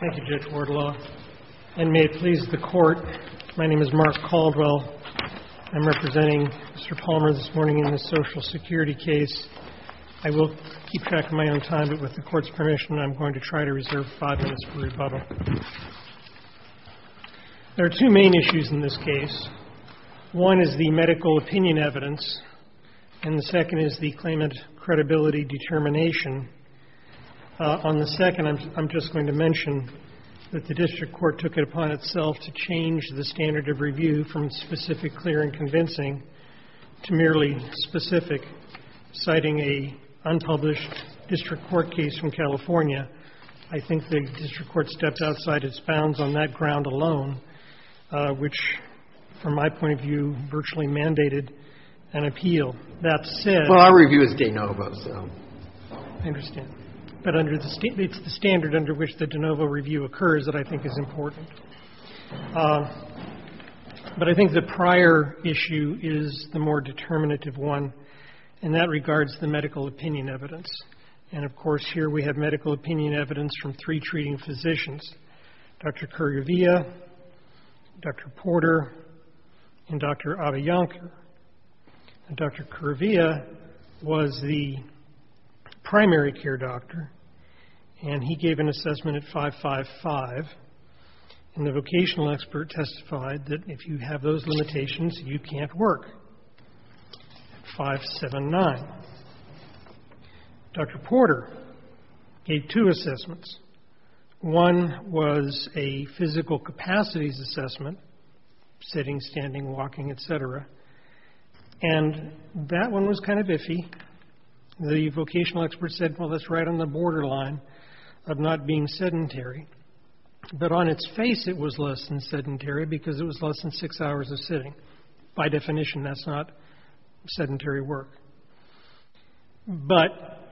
Thank you, Judge Wardlaw, and may it please the Court, my name is Mark Caldwell. I'm representing Mr. Palmer this morning in this social security case. I will keep track of my own time, but with the Court's permission, I'm going to try to reserve five minutes for rebuttal. There are two main issues in this case. One is the medical opinion evidence, and the second is the claimant credibility determination. On the second, I'm just going to mention that the district court took it upon itself to change the standard of review from specific, clear, and convincing to merely specific, citing an unpublished district court case from California. I think the district court stepped outside its bounds on that ground alone, which, from my point of view, virtually mandated an appeal. That said — I understand. But it's the standard under which the de novo review occurs that I think is important. But I think the prior issue is the more determinative one, and that regards the medical opinion evidence. And, of course, here we have medical opinion evidence from three treating physicians, Dr. Kuruvilla, Dr. Porter, and Dr. Adiyankar. Dr. Kuruvilla was the primary care doctor, and he gave an assessment at 5.55, and the vocational expert testified that if you have those limitations, you can't work at 5.79. Dr. Porter gave two assessments. One was a physical capacities assessment, sitting, standing, walking, et cetera, and that one was kind of iffy. The vocational expert said, well, that's right on the borderline of not being sedentary. But on its face, it was less than sedentary because it was less than six hours of sitting. By definition, that's not sedentary work. But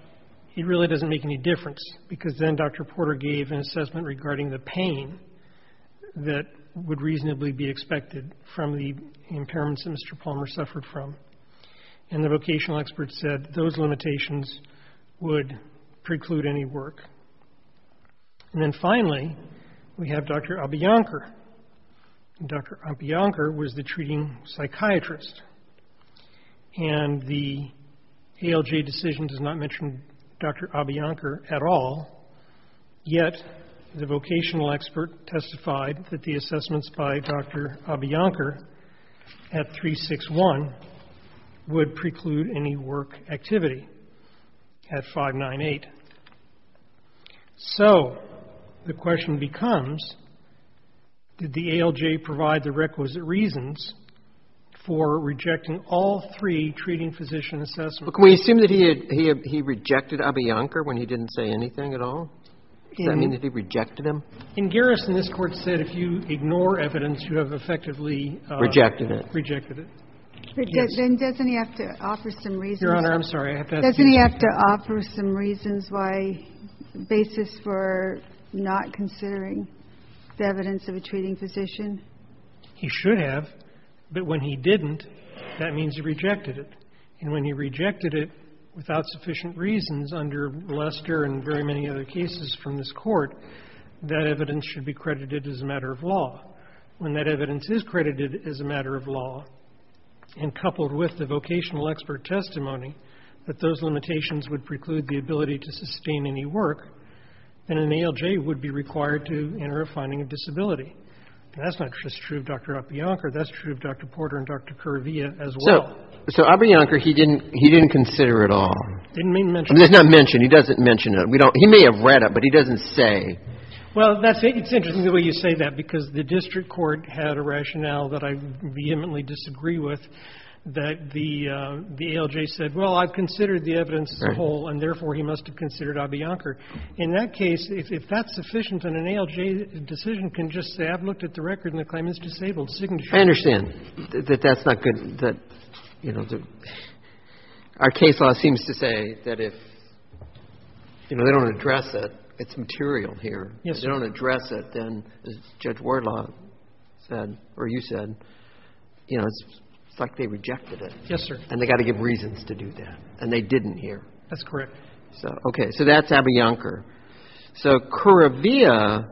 it really doesn't make any difference because then Dr. Porter gave an assessment regarding the pain that would reasonably be expected from the impairments that Mr. Palmer suffered from, and the vocational expert said those limitations would preclude any work. And then, finally, we have Dr. Adiyankar. Dr. Adiyankar was the treating psychiatrist, and the ALJ decision does not mention Dr. Adiyankar at all, yet the vocational expert testified that the assessments by Dr. Adiyankar at 3.61 would preclude any work activity at 5.98. So the question becomes, did the ALJ provide the requisite reasons for rejecting all three treating physician assessments? Roberts. But can we assume that he rejected Adiyankar when he didn't say anything at all? Does that mean that he rejected him? In Garrison, this Court said if you ignore evidence, you have effectively rejected it. Rejected it. Yes. But then doesn't he have to offer some reasons? Your Honor, I'm sorry. Doesn't he have to offer some reasons, a basis for not considering the evidence of a treating physician? He should have, but when he didn't, that means he rejected it. And when he rejected it without sufficient reasons, under Lester and very many other cases from this Court, that evidence should be credited as a matter of law. When that evidence is credited as a matter of law and coupled with the vocational expert testimony, that those limitations would preclude the ability to sustain any work, and an ALJ would be required to enter a finding of disability. And that's not just true of Dr. Adiyankar. That's true of Dr. Porter and Dr. Kuruvilla as well. So Adiyankar, he didn't consider it at all. Didn't mention it. He doesn't mention it. He may have read it, but he doesn't say. Well, it's interesting the way you say that, because the district court had a rationale that I vehemently disagree with, that the ALJ said, well, I've considered the evidence as a whole, and therefore he must have considered Adiyankar. In that case, if that's sufficient, then an ALJ decision can just say, I've looked at the record and the claimant's disabled signature. I understand that that's not good, that, you know, our case law seems to say that if, you know, they don't address it, it's material here. If they don't address it, then, as Judge Wardlaw said, or you said, you know, it's like they rejected it. Yes, sir. And they got to give reasons to do that, and they didn't here. That's correct. So, okay. So that's Adiyankar. So Kuruvilla,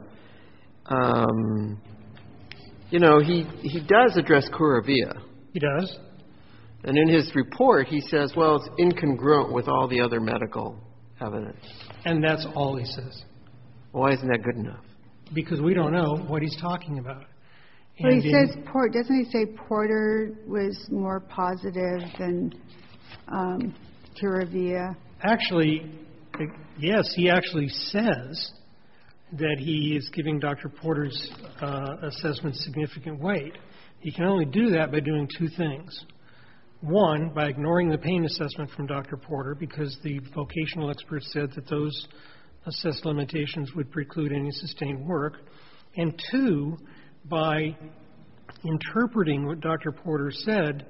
you know, he does address Kuruvilla. He does. And in his report, he says, well, it's incongruent with all the other medical evidence. And that's all he says. Why isn't that good enough? Because we don't know what he's talking about. Well, he says Porter. Doesn't he say Porter was more positive than Kuruvilla? Actually, yes. He actually says that he is giving Dr. Porter's assessment significant weight. He can only do that by doing two things. One, by ignoring the pain assessment from Dr. Porter because the vocational expert said that those assessed limitations would preclude any sustained work. And two, by interpreting what Dr. Porter said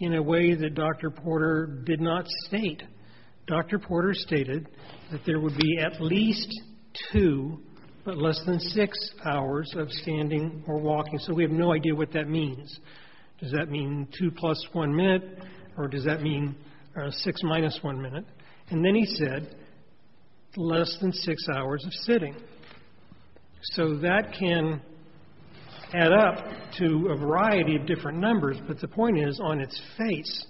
in a way that Dr. Porter did not state. Dr. Porter stated that there would be at least two but less than six hours of standing or walking. So we have no idea what that means. Does that mean two plus one minute? Or does that mean six minus one minute? And then he said less than six hours of sitting. So that can add up to a variety of different numbers. But the point is, on its face,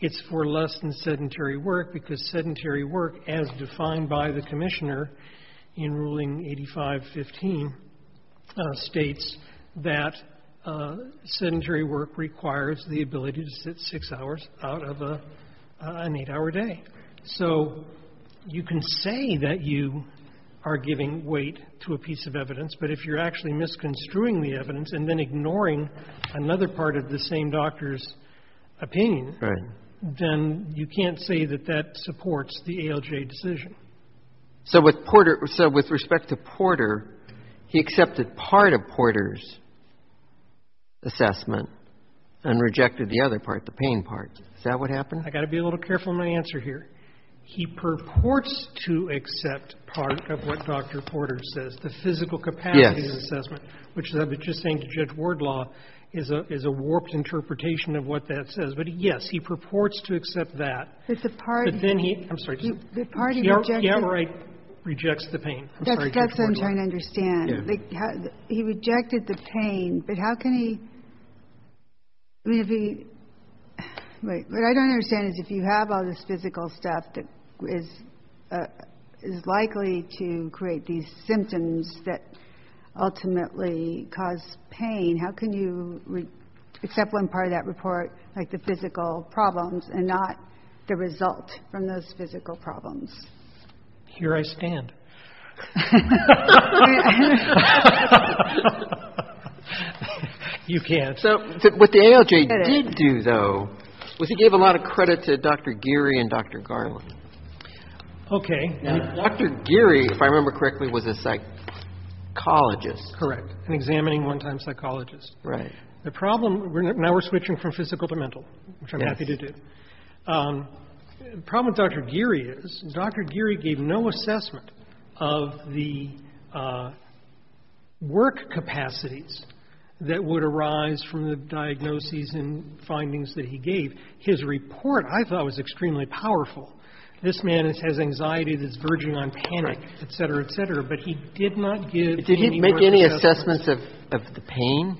it's for less than sedentary work because sedentary work, as defined by the Commissioner in Ruling 8515, states that sedentary work requires the ability to sit six hours out of an eight-hour day. So you can say that you are giving weight to a piece of evidence, but if you're actually misconstruing the evidence and then ignoring another part of the same doctor's opinion, then you can't say that that supports the ALJ decision. So with Porter — so with respect to Porter, he accepted part of Porter's assessment and rejected the other part, the pain part. Is that what happened? I've got to be a little careful in my answer here. He purports to accept part of what Dr. Porter says. The physical capacity assessment, which I've been just saying to Judge Wardlaw, is a warped interpretation of what that says. But, yes, he purports to accept that. But then he — I'm sorry. He outright rejects the pain. I'm sorry, Judge Wardlaw. That's what I'm trying to understand. He rejected the pain. But how can he — I mean, if he — wait. What I don't understand is if you have all this physical stuff that is likely to create these symptoms that ultimately cause pain, how can you accept one part of that report, like the physical problems, and not the result from those physical problems? Here I stand. You can. So what the ALJ did do, though, was he gave a lot of credit to Dr. Geary and Dr. Garland. Okay. Dr. Geary, if I remember correctly, was a psychologist. Correct, an examining one-time psychologist. Right. The problem — now we're switching from physical to mental, which I'm happy to do. The problem with Dr. Geary is Dr. Geary gave no assessment of the work capacities that would arise from the diagnoses and findings that he gave. His report, I thought, was extremely powerful. This man has anxiety that's verging on panic, et cetera, et cetera. But he did not give any more assessments. Did he make any assessments of the pain?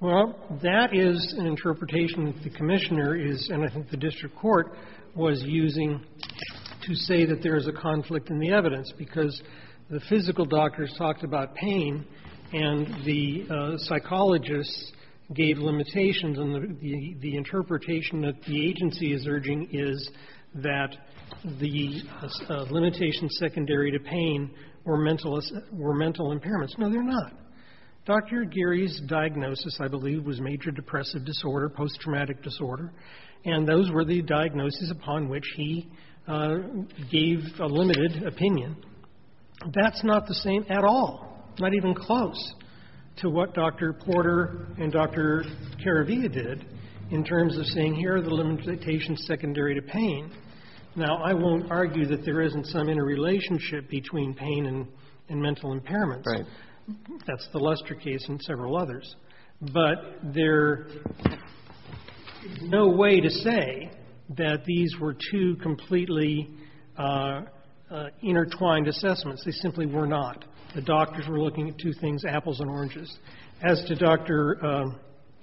Well, that is an interpretation that the commissioner is — and I think the district court was using to say that there is a conflict in the evidence, because the physical doctors talked about pain and the psychologists gave limitations, and the interpretation that the agency is urging is that the limitations secondary to pain were mental impairments. No, they're not. Dr. Geary's diagnosis, I believe, was major depressive disorder, post-traumatic disorder, and those were the diagnoses upon which he gave a limited opinion. That's not the same at all, not even close to what Dr. Porter and Dr. Caravia did in terms of saying here are the limitations secondary to pain. Now, I won't argue that there isn't some interrelationship between pain and mental impairments. That's the Lester case and several others. But there is no way to say that these were two completely intertwined assessments. They simply were not. The doctors were looking at two things, apples and oranges. As to Dr.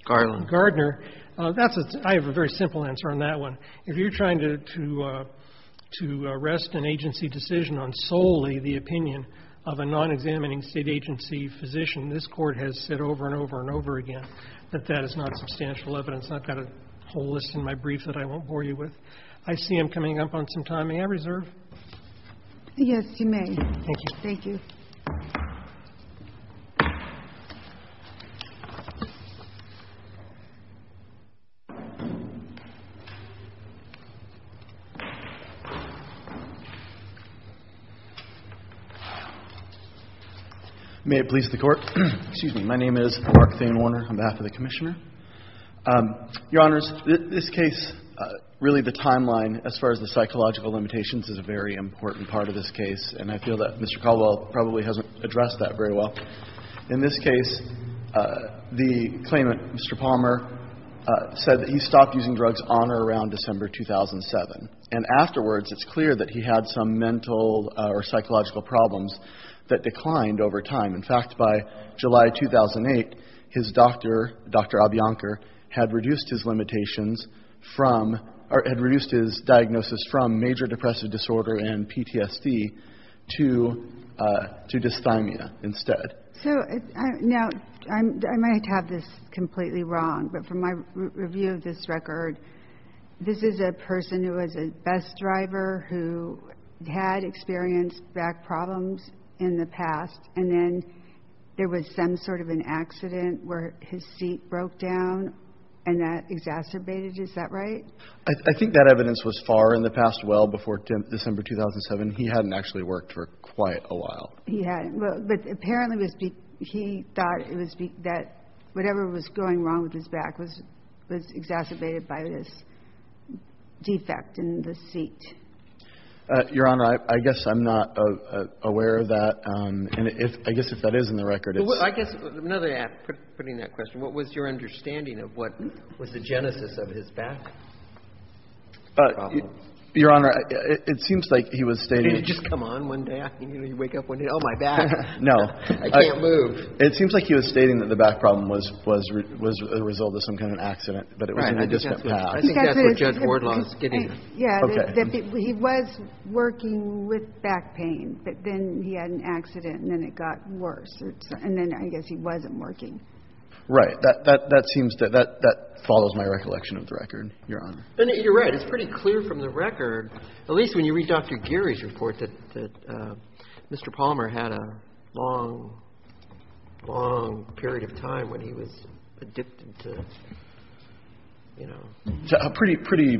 Gardner, that's a — I have a very simple answer on that one. If you're trying to rest an agency decision on solely the opinion of a non-examining state agency physician, this Court has said over and over and over again that that is not substantial evidence. I've got a whole list in my brief that I won't bore you with. I see I'm coming up on some time. May I reserve? Yes, you may. Thank you. Thank you. May it please the Court. Excuse me. My name is Mark Thain Warner on behalf of the Commissioner. Your Honors, this case, really the timeline as far as the psychological limitations is a very important part of this case, and I feel that Mr. Caldwell probably hasn't addressed that very well. In this case, the claimant, Mr. Palmer, said that he stopped using drugs on or around December 2007. And afterwards, it's clear that he had some mental or psychological problems that declined over time. In fact, by July 2008, his doctor, Dr. Abianker, had reduced his limitations from or had reduced his diagnosis from major depressive disorder and PTSD to dysthymia instead. So now, I might have this completely wrong, but from my review of this record, this is a person who was a bus driver who had experienced back problems in the past, and then there was some sort of an accident where his seat broke down and that exacerbated. Is that right? I think that evidence was far in the past. Well, before December 2007, he hadn't actually worked for quite a while. He hadn't. But apparently, he thought that whatever was going wrong with his back was exacerbated by this defect in the seat. Your Honor, I guess I'm not aware of that. And I guess if that is in the record, it's... Well, I guess, another way of putting that question, what was your understanding of what was the genesis of his back problems? Your Honor, it seems like he was stating... Can you just come on one day? I mean, you know, you wake up one day, oh, my back. No. I can't move. It seems like he was stating that the back problem was a result of some kind of accident, but it was in the distant past. Right. I think that's what Judge Wardlaw is getting at. Yeah. Okay. He was working with back pain, but then he had an accident and then it got worse. And then I guess he wasn't working. Right. That seems to – that follows my recollection of the record, Your Honor. You're right. It's pretty clear from the record, at least when you read Dr. Geary's report, that Mr. Palmer had a long, long period of time when he was addicted to, you know... To pretty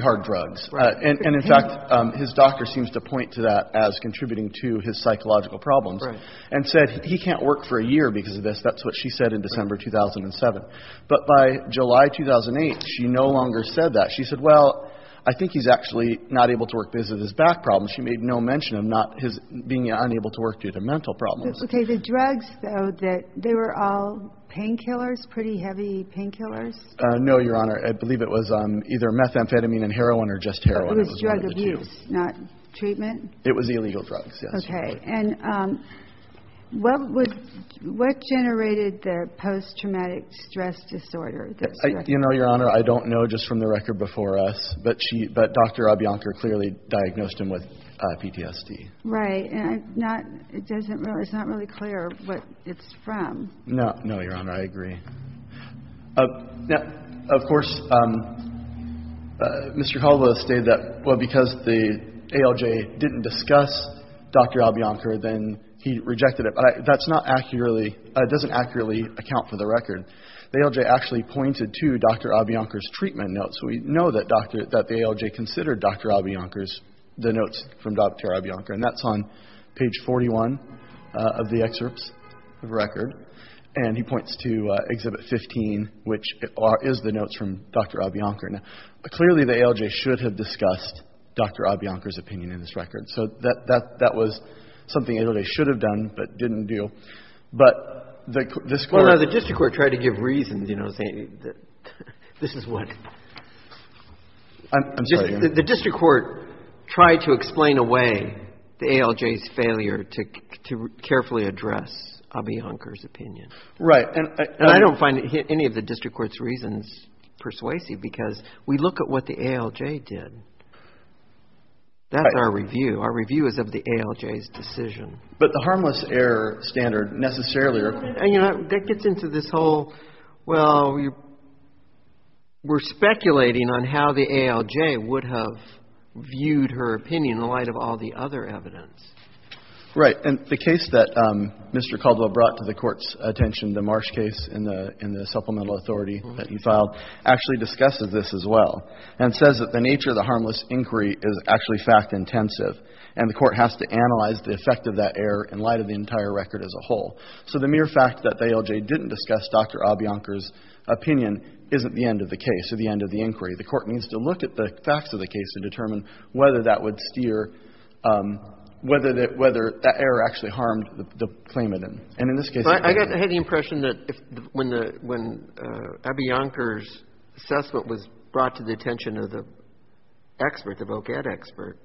hard drugs. Right. And, in fact, his doctor seems to point to that as contributing to his psychological problems. Right. And said he can't work for a year because of this. That's what she said in December 2007. But by July 2008, she no longer said that. She said, well, I think he's actually not able to work because of his back problems. She made no mention of being unable to work due to mental problems. Okay. The drugs, though, they were all painkillers, pretty heavy painkillers? No, Your Honor. I believe it was either methamphetamine and heroin or just heroin. It was drug abuse, not treatment? It was illegal drugs, yes. Okay. And what generated the post-traumatic stress disorder? You know, Your Honor, I don't know just from the record before us, but she – but Dr. Abiancar clearly diagnosed him with PTSD. Right. And I'm not – it doesn't really – it's not really clear what it's from. No. No, Your Honor. I agree. Of course, Mr. Caldwell stated that, well, because the ALJ didn't discuss Dr. Abiancar, then he rejected it. But that's not accurately – doesn't accurately account for the record. The ALJ actually pointed to Dr. Abiancar's treatment notes. We know that Dr. – that the ALJ considered Dr. Abiancar's – the notes from Dr. Abiancar. And that's on page 41 of the excerpts of the record. And he points to Exhibit 15, which is the notes from Dr. Abiancar. Now, clearly the ALJ should have discussed Dr. Abiancar's opinion in this record. So that was something the ALJ should have done but didn't do. But the court – This is what – I'm sorry. The district court tried to explain away the ALJ's failure to carefully address Abiancar's opinion. Right. And I don't find any of the district court's reasons persuasive because we look at what the ALJ did. That's our review. Our review is of the ALJ's decision. But the harmless error standard necessarily – That gets into this whole, well, we're speculating on how the ALJ would have viewed her opinion in light of all the other evidence. Right. And the case that Mr. Caldo brought to the Court's attention, the Marsh case in the supplemental authority that he filed, actually discussed this as well and says that the nature of the harmless inquiry is actually fact-intensive and the Court has to analyze the effect of that error in light of the entire record as a whole. So the mere fact that the ALJ didn't discuss Dr. Abiancar's opinion isn't the end of the case or the end of the inquiry. The Court needs to look at the facts of the case to determine whether that would steer, whether that error actually harmed the claimant. And in this case – But I had the impression that when Abiancar's assessment was brought to the attention of the expert, the vocad expert,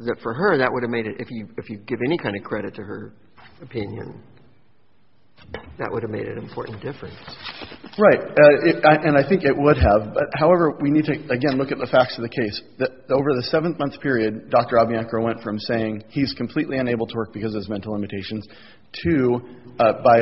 that for her that would have made it, if you give any kind of credit to her opinion, that would have made an important difference. Right. And I think it would have. However, we need to, again, look at the facts of the case. Over the 7-month period, Dr. Abiancar went from saying he's completely unable to work because of his mental limitations to, by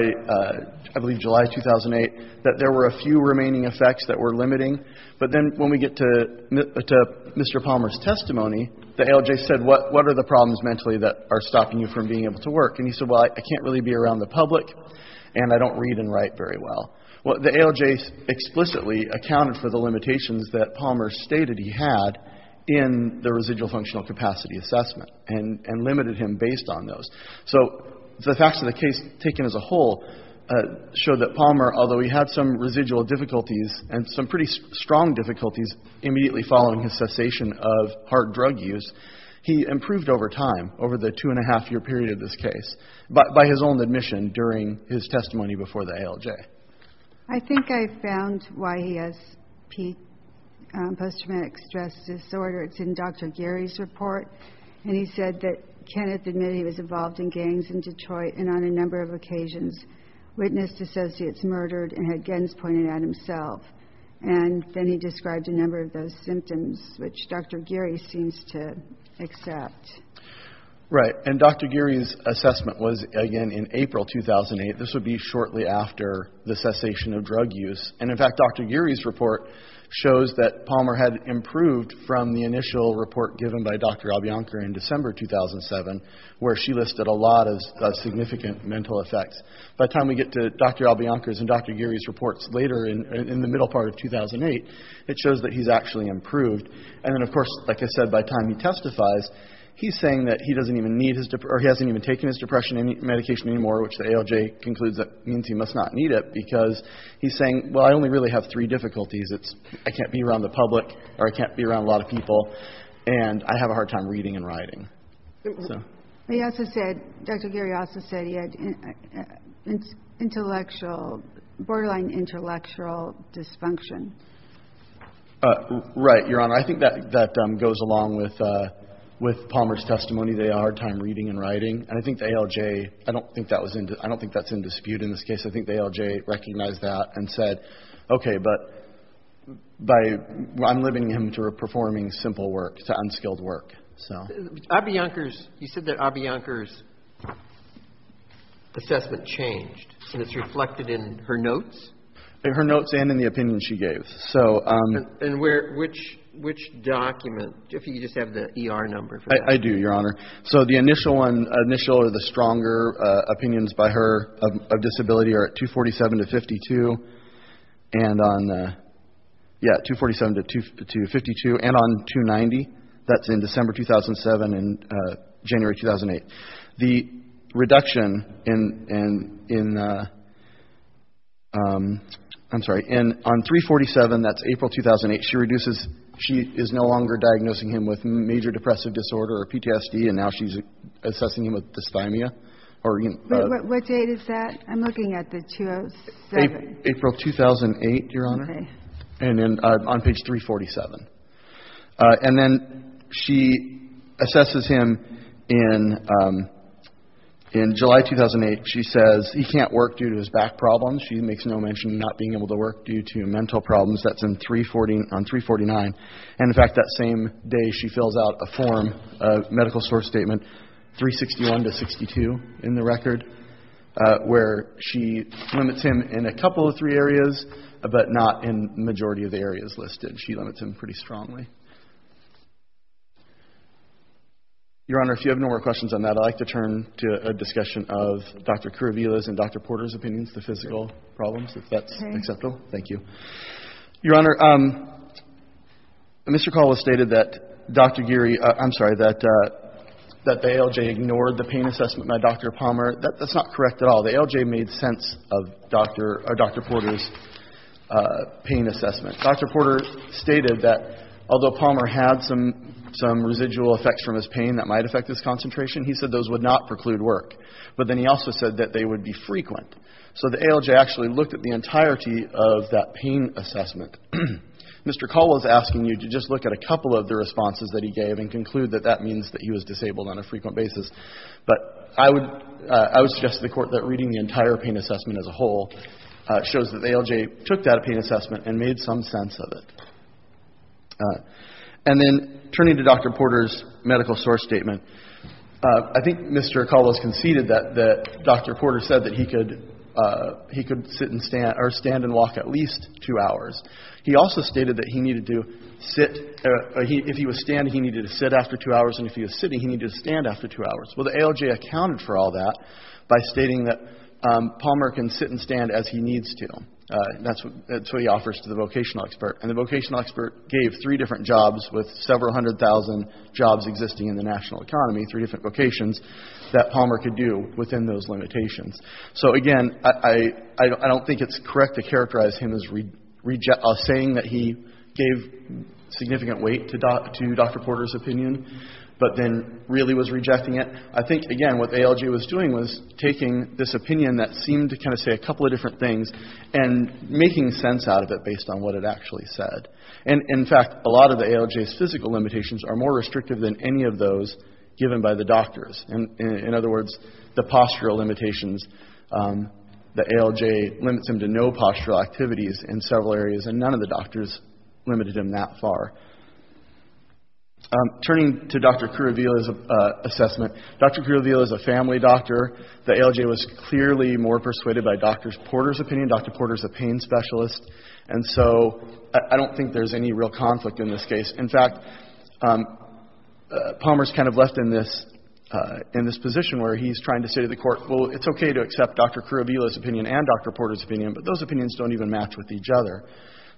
I believe July 2008, that there were a few remaining effects that were limiting. But then when we get to Mr. Palmer's testimony, the ALJ said, what are the problems mentally that are stopping you from being able to work? And he said, well, I can't really be around the public and I don't read and write very well. Well, the ALJ explicitly accounted for the limitations that Palmer stated he had in the residual functional capacity assessment and limited him based on those. So the facts of the case taken as a whole show that Palmer, although he had some residual difficulties and some pretty strong difficulties immediately following his cessation of hard drug use, he improved over time, over the two-and-a-half-year period of this case, by his own admission during his testimony before the ALJ. I think I found why he has post-traumatic stress disorder. It's in Dr. Geary's report. And he said that Kenneth admitted he was involved in gangs in Detroit and on a number of occasions witnessed associates murdered and had guns pointed at himself. And then he described a number of those symptoms, which Dr. Geary seems to accept. Right. And Dr. Geary's assessment was, again, in April 2008. This would be shortly after the cessation of drug use. And, in fact, Dr. Geary's report shows that Palmer had improved from the initial report given by Dr. Albianca in December 2007, where she listed a lot of significant mental effects. By the time we get to Dr. Albianca's and Dr. Geary's reports later in the middle part of 2008, it shows that he's actually improved. And then, of course, like I said, by the time he testifies, he's saying that he doesn't even need his depression or he hasn't even taken his depression medication anymore, which the ALJ concludes that means he must not need it because he's saying, well, I only really have three difficulties. It's I can't be around the public or I can't be around a lot of people, and I have a hard time reading and writing. He also said, Dr. Geary also said he had intellectual, borderline intellectual dysfunction. Right, Your Honor. I think that goes along with Palmer's testimony. They had a hard time reading and writing. And I think the ALJ, I don't think that's in dispute in this case. I think the ALJ recognized that and said, okay, but I'm limiting him to performing simple work, to unskilled work. Abi Yonkers, you said that Abi Yonkers' assessment changed, and it's reflected in her notes? In her notes and in the opinion she gave. And which document, if you just have the ER number. I do, Your Honor. So the initial one, the stronger opinions by her of disability are at 247 to 52, and on, yeah, 247 to 52, and on 290, that's in December 2007 and January 2008. The reduction in, I'm sorry, on 347, that's April 2008, she is no longer diagnosing him with major depressive disorder or PTSD, and now she's assessing him with dysthymia. What date is that? I'm looking at the 2007. April 2008, Your Honor. Okay. And then on page 347. And then she assesses him in July 2008. She says he can't work due to his back problems. She makes no mention of not being able to work due to mental problems. That's on 349. And, in fact, that same day she fills out a form, a medical source statement, 361 to 62 in the record, where she limits him in a couple of three areas, but not in the majority of the areas listed. She limits him pretty strongly. Your Honor, if you have no more questions on that, I'd like to turn to a discussion of Dr. Kouroubila's and Dr. Porter's opinions, the physical problems, if that's acceptable. Okay. Thank you. Your Honor, Mr. Kouroubila stated that Dr. Geary, I'm sorry, that the ALJ ignored the pain assessment by Dr. Palmer. That's not correct at all. The ALJ made sense of Dr. Porter's pain assessment. Dr. Porter stated that, although Palmer had some residual effects from his pain that might affect his concentration, he said those would not preclude work. But then he also said that they would be frequent. So the ALJ actually looked at the entirety of that pain assessment. Mr. Cole is asking you to just look at a couple of the responses that he gave and conclude that that means that he was disabled on a frequent basis. But I would suggest to the Court that reading the entire pain assessment as a whole shows that the ALJ took that pain assessment and made some sense of it. And then turning to Dr. Porter's medical source statement, I think Mr. Acaldo has conceded that Dr. Porter said that he could sit and stand or stand and walk at least two hours. He also stated that if he was standing, he needed to sit after two hours, and if he was sitting, he needed to stand after two hours. Well, the ALJ accounted for all that by stating that Palmer can sit and stand as he needs to. That's what he offers to the vocational expert. And the vocational expert gave three different jobs with several hundred thousand jobs existing in the national economy, three different vocations, that Palmer could do within those limitations. So, again, I don't think it's correct to characterize him as saying that he gave significant weight to Dr. Porter's opinion, but then really was rejecting it. I think, again, what the ALJ was doing was taking this opinion that seemed to kind of say a couple of different things and making sense out of it based on what it actually said. And, in fact, a lot of the ALJ's physical limitations are more restrictive than any of those given by the doctors. In other words, the postural limitations, the ALJ limits him to no postural activities in several areas, and none of the doctors limited him that far. Turning to Dr. Kuruvilla's assessment, Dr. Kuruvilla is a family doctor. The ALJ was clearly more persuaded by Dr. Porter's opinion. Dr. Porter's a pain specialist, and so I don't think there's any real conflict in this case. In fact, Palmer's kind of left in this position where he's trying to say to the court, well, it's okay to accept Dr. Kuruvilla's opinion and Dr. Porter's opinion, but those opinions don't even match with each other.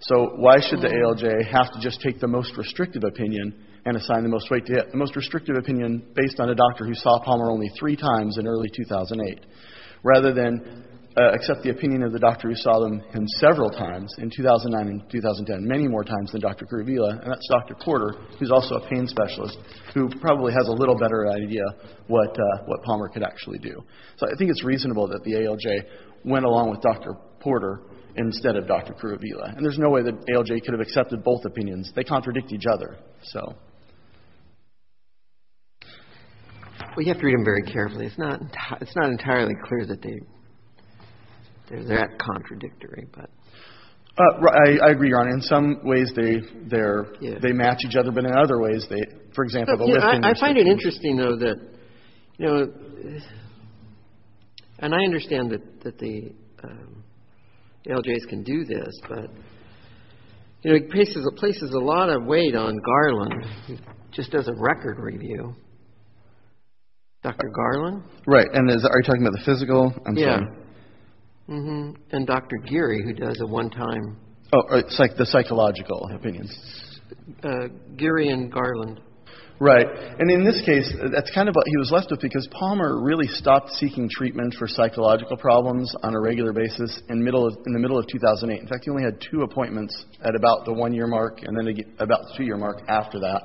So why should the ALJ have to just take the most restrictive opinion and assign the most weight to it, the most restrictive opinion based on a doctor who saw Palmer only three times in early 2008, rather than accept the opinion of the doctor who saw him several times in 2009 and 2010, and many more times than Dr. Kuruvilla, and that's Dr. Porter, who's also a pain specialist, who probably has a little better idea what Palmer could actually do. So I think it's reasonable that the ALJ went along with Dr. Porter instead of Dr. Kuruvilla, and there's no way the ALJ could have accepted both opinions. They contradict each other, so. Well, you have to read them very carefully. It's not entirely clear that they're that contradictory. I agree, Your Honor. In some ways, they match each other, but in other ways, they, for example, the lifting. I find it interesting, though, that, you know, and I understand that the ALJs can do this, but it places a lot of weight on Garland, just as a record review. Dr. Garland? Right, and are you talking about the physical? Yeah. And Dr. Geary, who does a one-time. Oh, the psychological opinions. Geary and Garland. Right, and in this case, that's kind of what he was left with, because Palmer really stopped seeking treatment for psychological problems on a regular basis in the middle of 2008. In fact, he only had two appointments at about the one-year mark and then about the two-year mark after that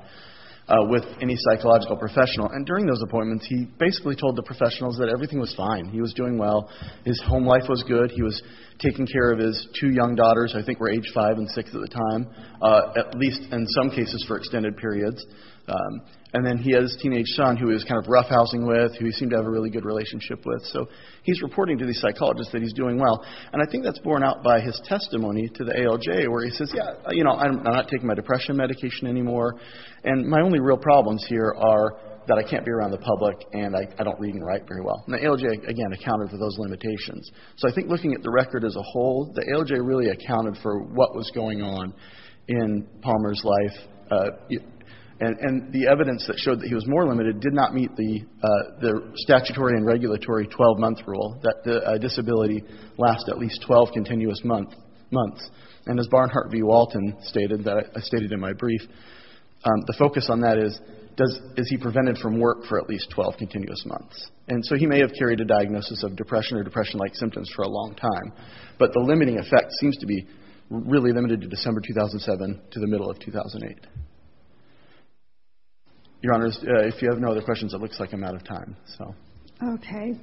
with any psychological professional, and during those appointments, he basically told the professionals that everything was fine. He was doing well. His home life was good. He was taking care of his two young daughters, I think were age five and six at the time, at least in some cases for extended periods, and then he had his teenage son who he was kind of roughhousing with, who he seemed to have a really good relationship with. So he's reporting to these psychologists that he's doing well, and I think that's borne out by his testimony to the ALJ where he says, yeah, you know, I'm not taking my depression medication anymore, and my only real problems here are that I can't be around the public and I don't read and write very well. Now, ALJ, again, accounted for those limitations. So I think looking at the record as a whole, the ALJ really accounted for what was going on in Palmer's life, and the evidence that showed that he was more limited did not meet the statutory and regulatory 12-month rule that a disability lasts at least 12 continuous months, and as Barnhart v. Walton stated, that I stated in my brief, the focus on that is, is he prevented from work for at least 12 continuous months? And so he may have carried a diagnosis of depression or depression-like symptoms for a long time, but the limiting effect seems to be really limited to December 2007 to the middle of 2008. Your Honors, if you have no other questions, it looks like I'm out of time, so. Okay.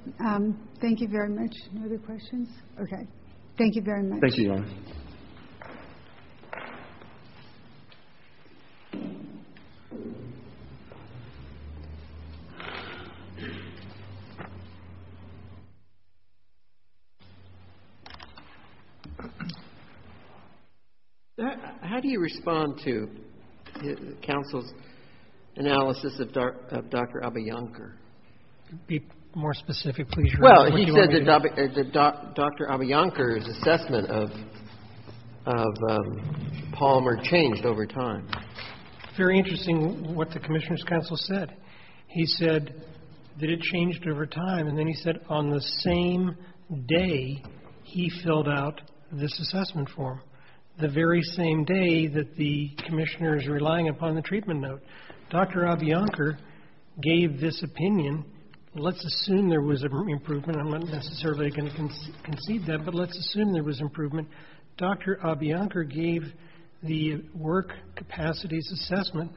Thank you very much. No other questions? Okay. Thank you very much. Thank you, Your Honor. Thank you. How do you respond to counsel's analysis of Dr. Abiyankar? Be more specific, please, Your Honor. He said that Dr. Abiyankar's assessment of Palmer changed over time. Very interesting what the Commissioner's counsel said. He said that it changed over time, and then he said on the same day he filled out this assessment form, the very same day that the Commissioner is relying upon the treatment note. Dr. Abiyankar gave this opinion. Let's assume there was an improvement. I'm not necessarily going to concede that, but let's assume there was improvement. Dr. Abiyankar gave the work capacities assessment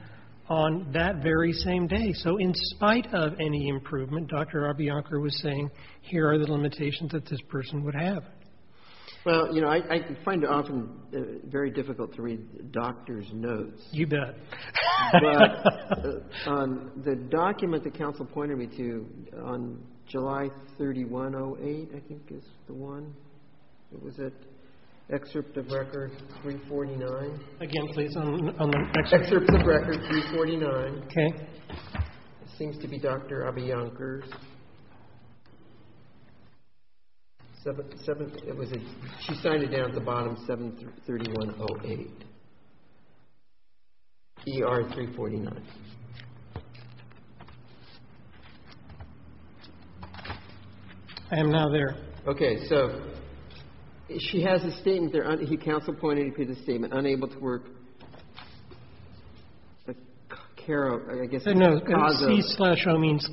on that very same day. So in spite of any improvement, Dr. Abiyankar was saying, here are the limitations that this person would have. Well, you know, I find it often very difficult to read doctors' notes. You bet. But the document that counsel pointed me to on July 31, 08, I think is the one. It was at excerpt of record 349. Again, please, on the excerpt. Excerpt of record 349. Okay. It seems to be Dr. Abiyankar's. She signed it down at the bottom, 731.08. ER 349. I am now there. Okay. So she has a statement there. He counsel pointed to the statement, unable to work the care of, I guess, the cause of. No. C slash O means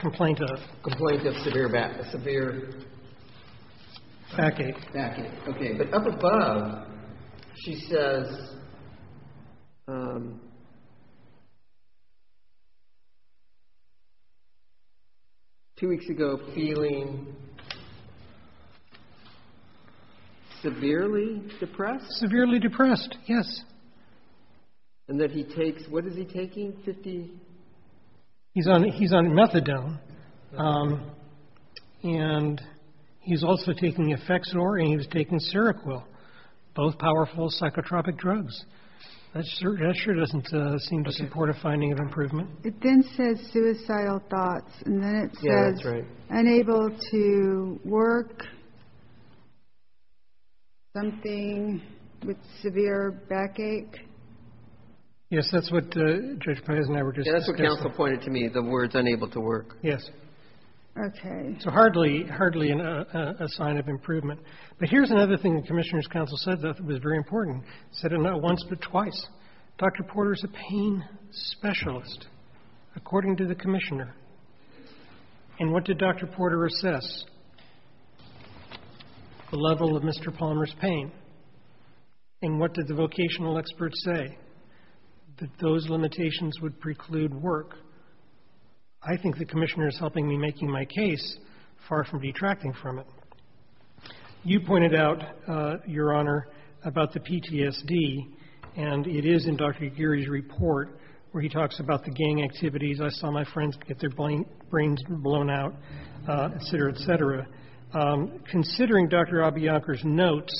complaint of. Complaint of severe back, severe. Backache. Backache. Okay. But up above, she says, two weeks ago, feeling severely depressed? Severely depressed, yes. And that he takes, what is he taking, 50? He's on methadone. And he's also taking Efexor and he's taking Seroquel, both powerful psychotropic drugs. That sure doesn't seem to support a finding of improvement. It then says suicidal thoughts. And then it says unable to work something with severe backache. Yes. That's what Judge Perez and I were just discussing. That's what counsel pointed to me, the words unable to work. Yes. Okay. So hardly, hardly a sign of improvement. But here's another thing the Commissioner's counsel said that was very important. Said it not once, but twice. Dr. Porter is a pain specialist, according to the Commissioner. And what did Dr. Porter assess? The level of Mr. Palmer's pain. And what did the vocational experts say? That those limitations would preclude work. I think the Commissioner is helping me make my case, far from detracting from it. You pointed out, Your Honor, about the PTSD. And it is in Dr. Aguirre's report where he talks about the gang activities. I saw my friends get their brains blown out, et cetera, et cetera. Considering Dr. Abiyankar's notes,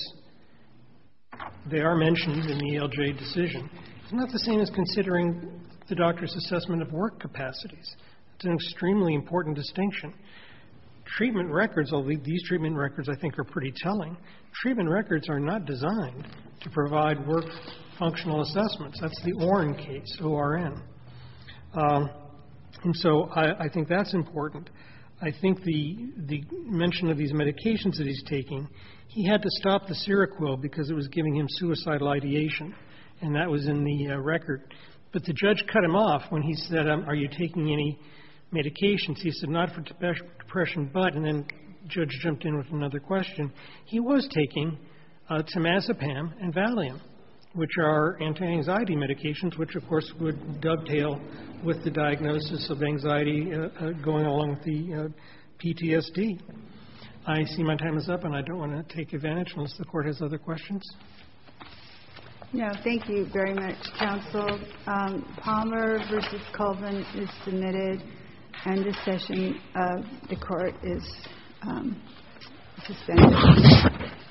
they are mentioned in the ELJ decision. It's not the same as considering the doctor's assessment of work capacities. It's an extremely important distinction. Treatment records, these treatment records I think are pretty telling. Treatment records are not designed to provide work functional assessments. That's the ORN case, O-R-N. And so I think that's important. I think the mention of these medications that he's taking, he had to stop the Seroquil because it was giving him suicidal ideation. And that was in the record. But the judge cut him off when he said, Are you taking any medications? He said, Not for depression, but, and then the judge jumped in with another question, he was taking Tamazepam and Valium, which are anti-anxiety medications, which of course would dovetail with the diagnosis of anxiety going along with the PTSD. I see my time is up, and I don't want to take advantage unless the court has other questions. No, thank you very much, counsel. Palmer v. Colvin is submitted, and this session of the court is suspended.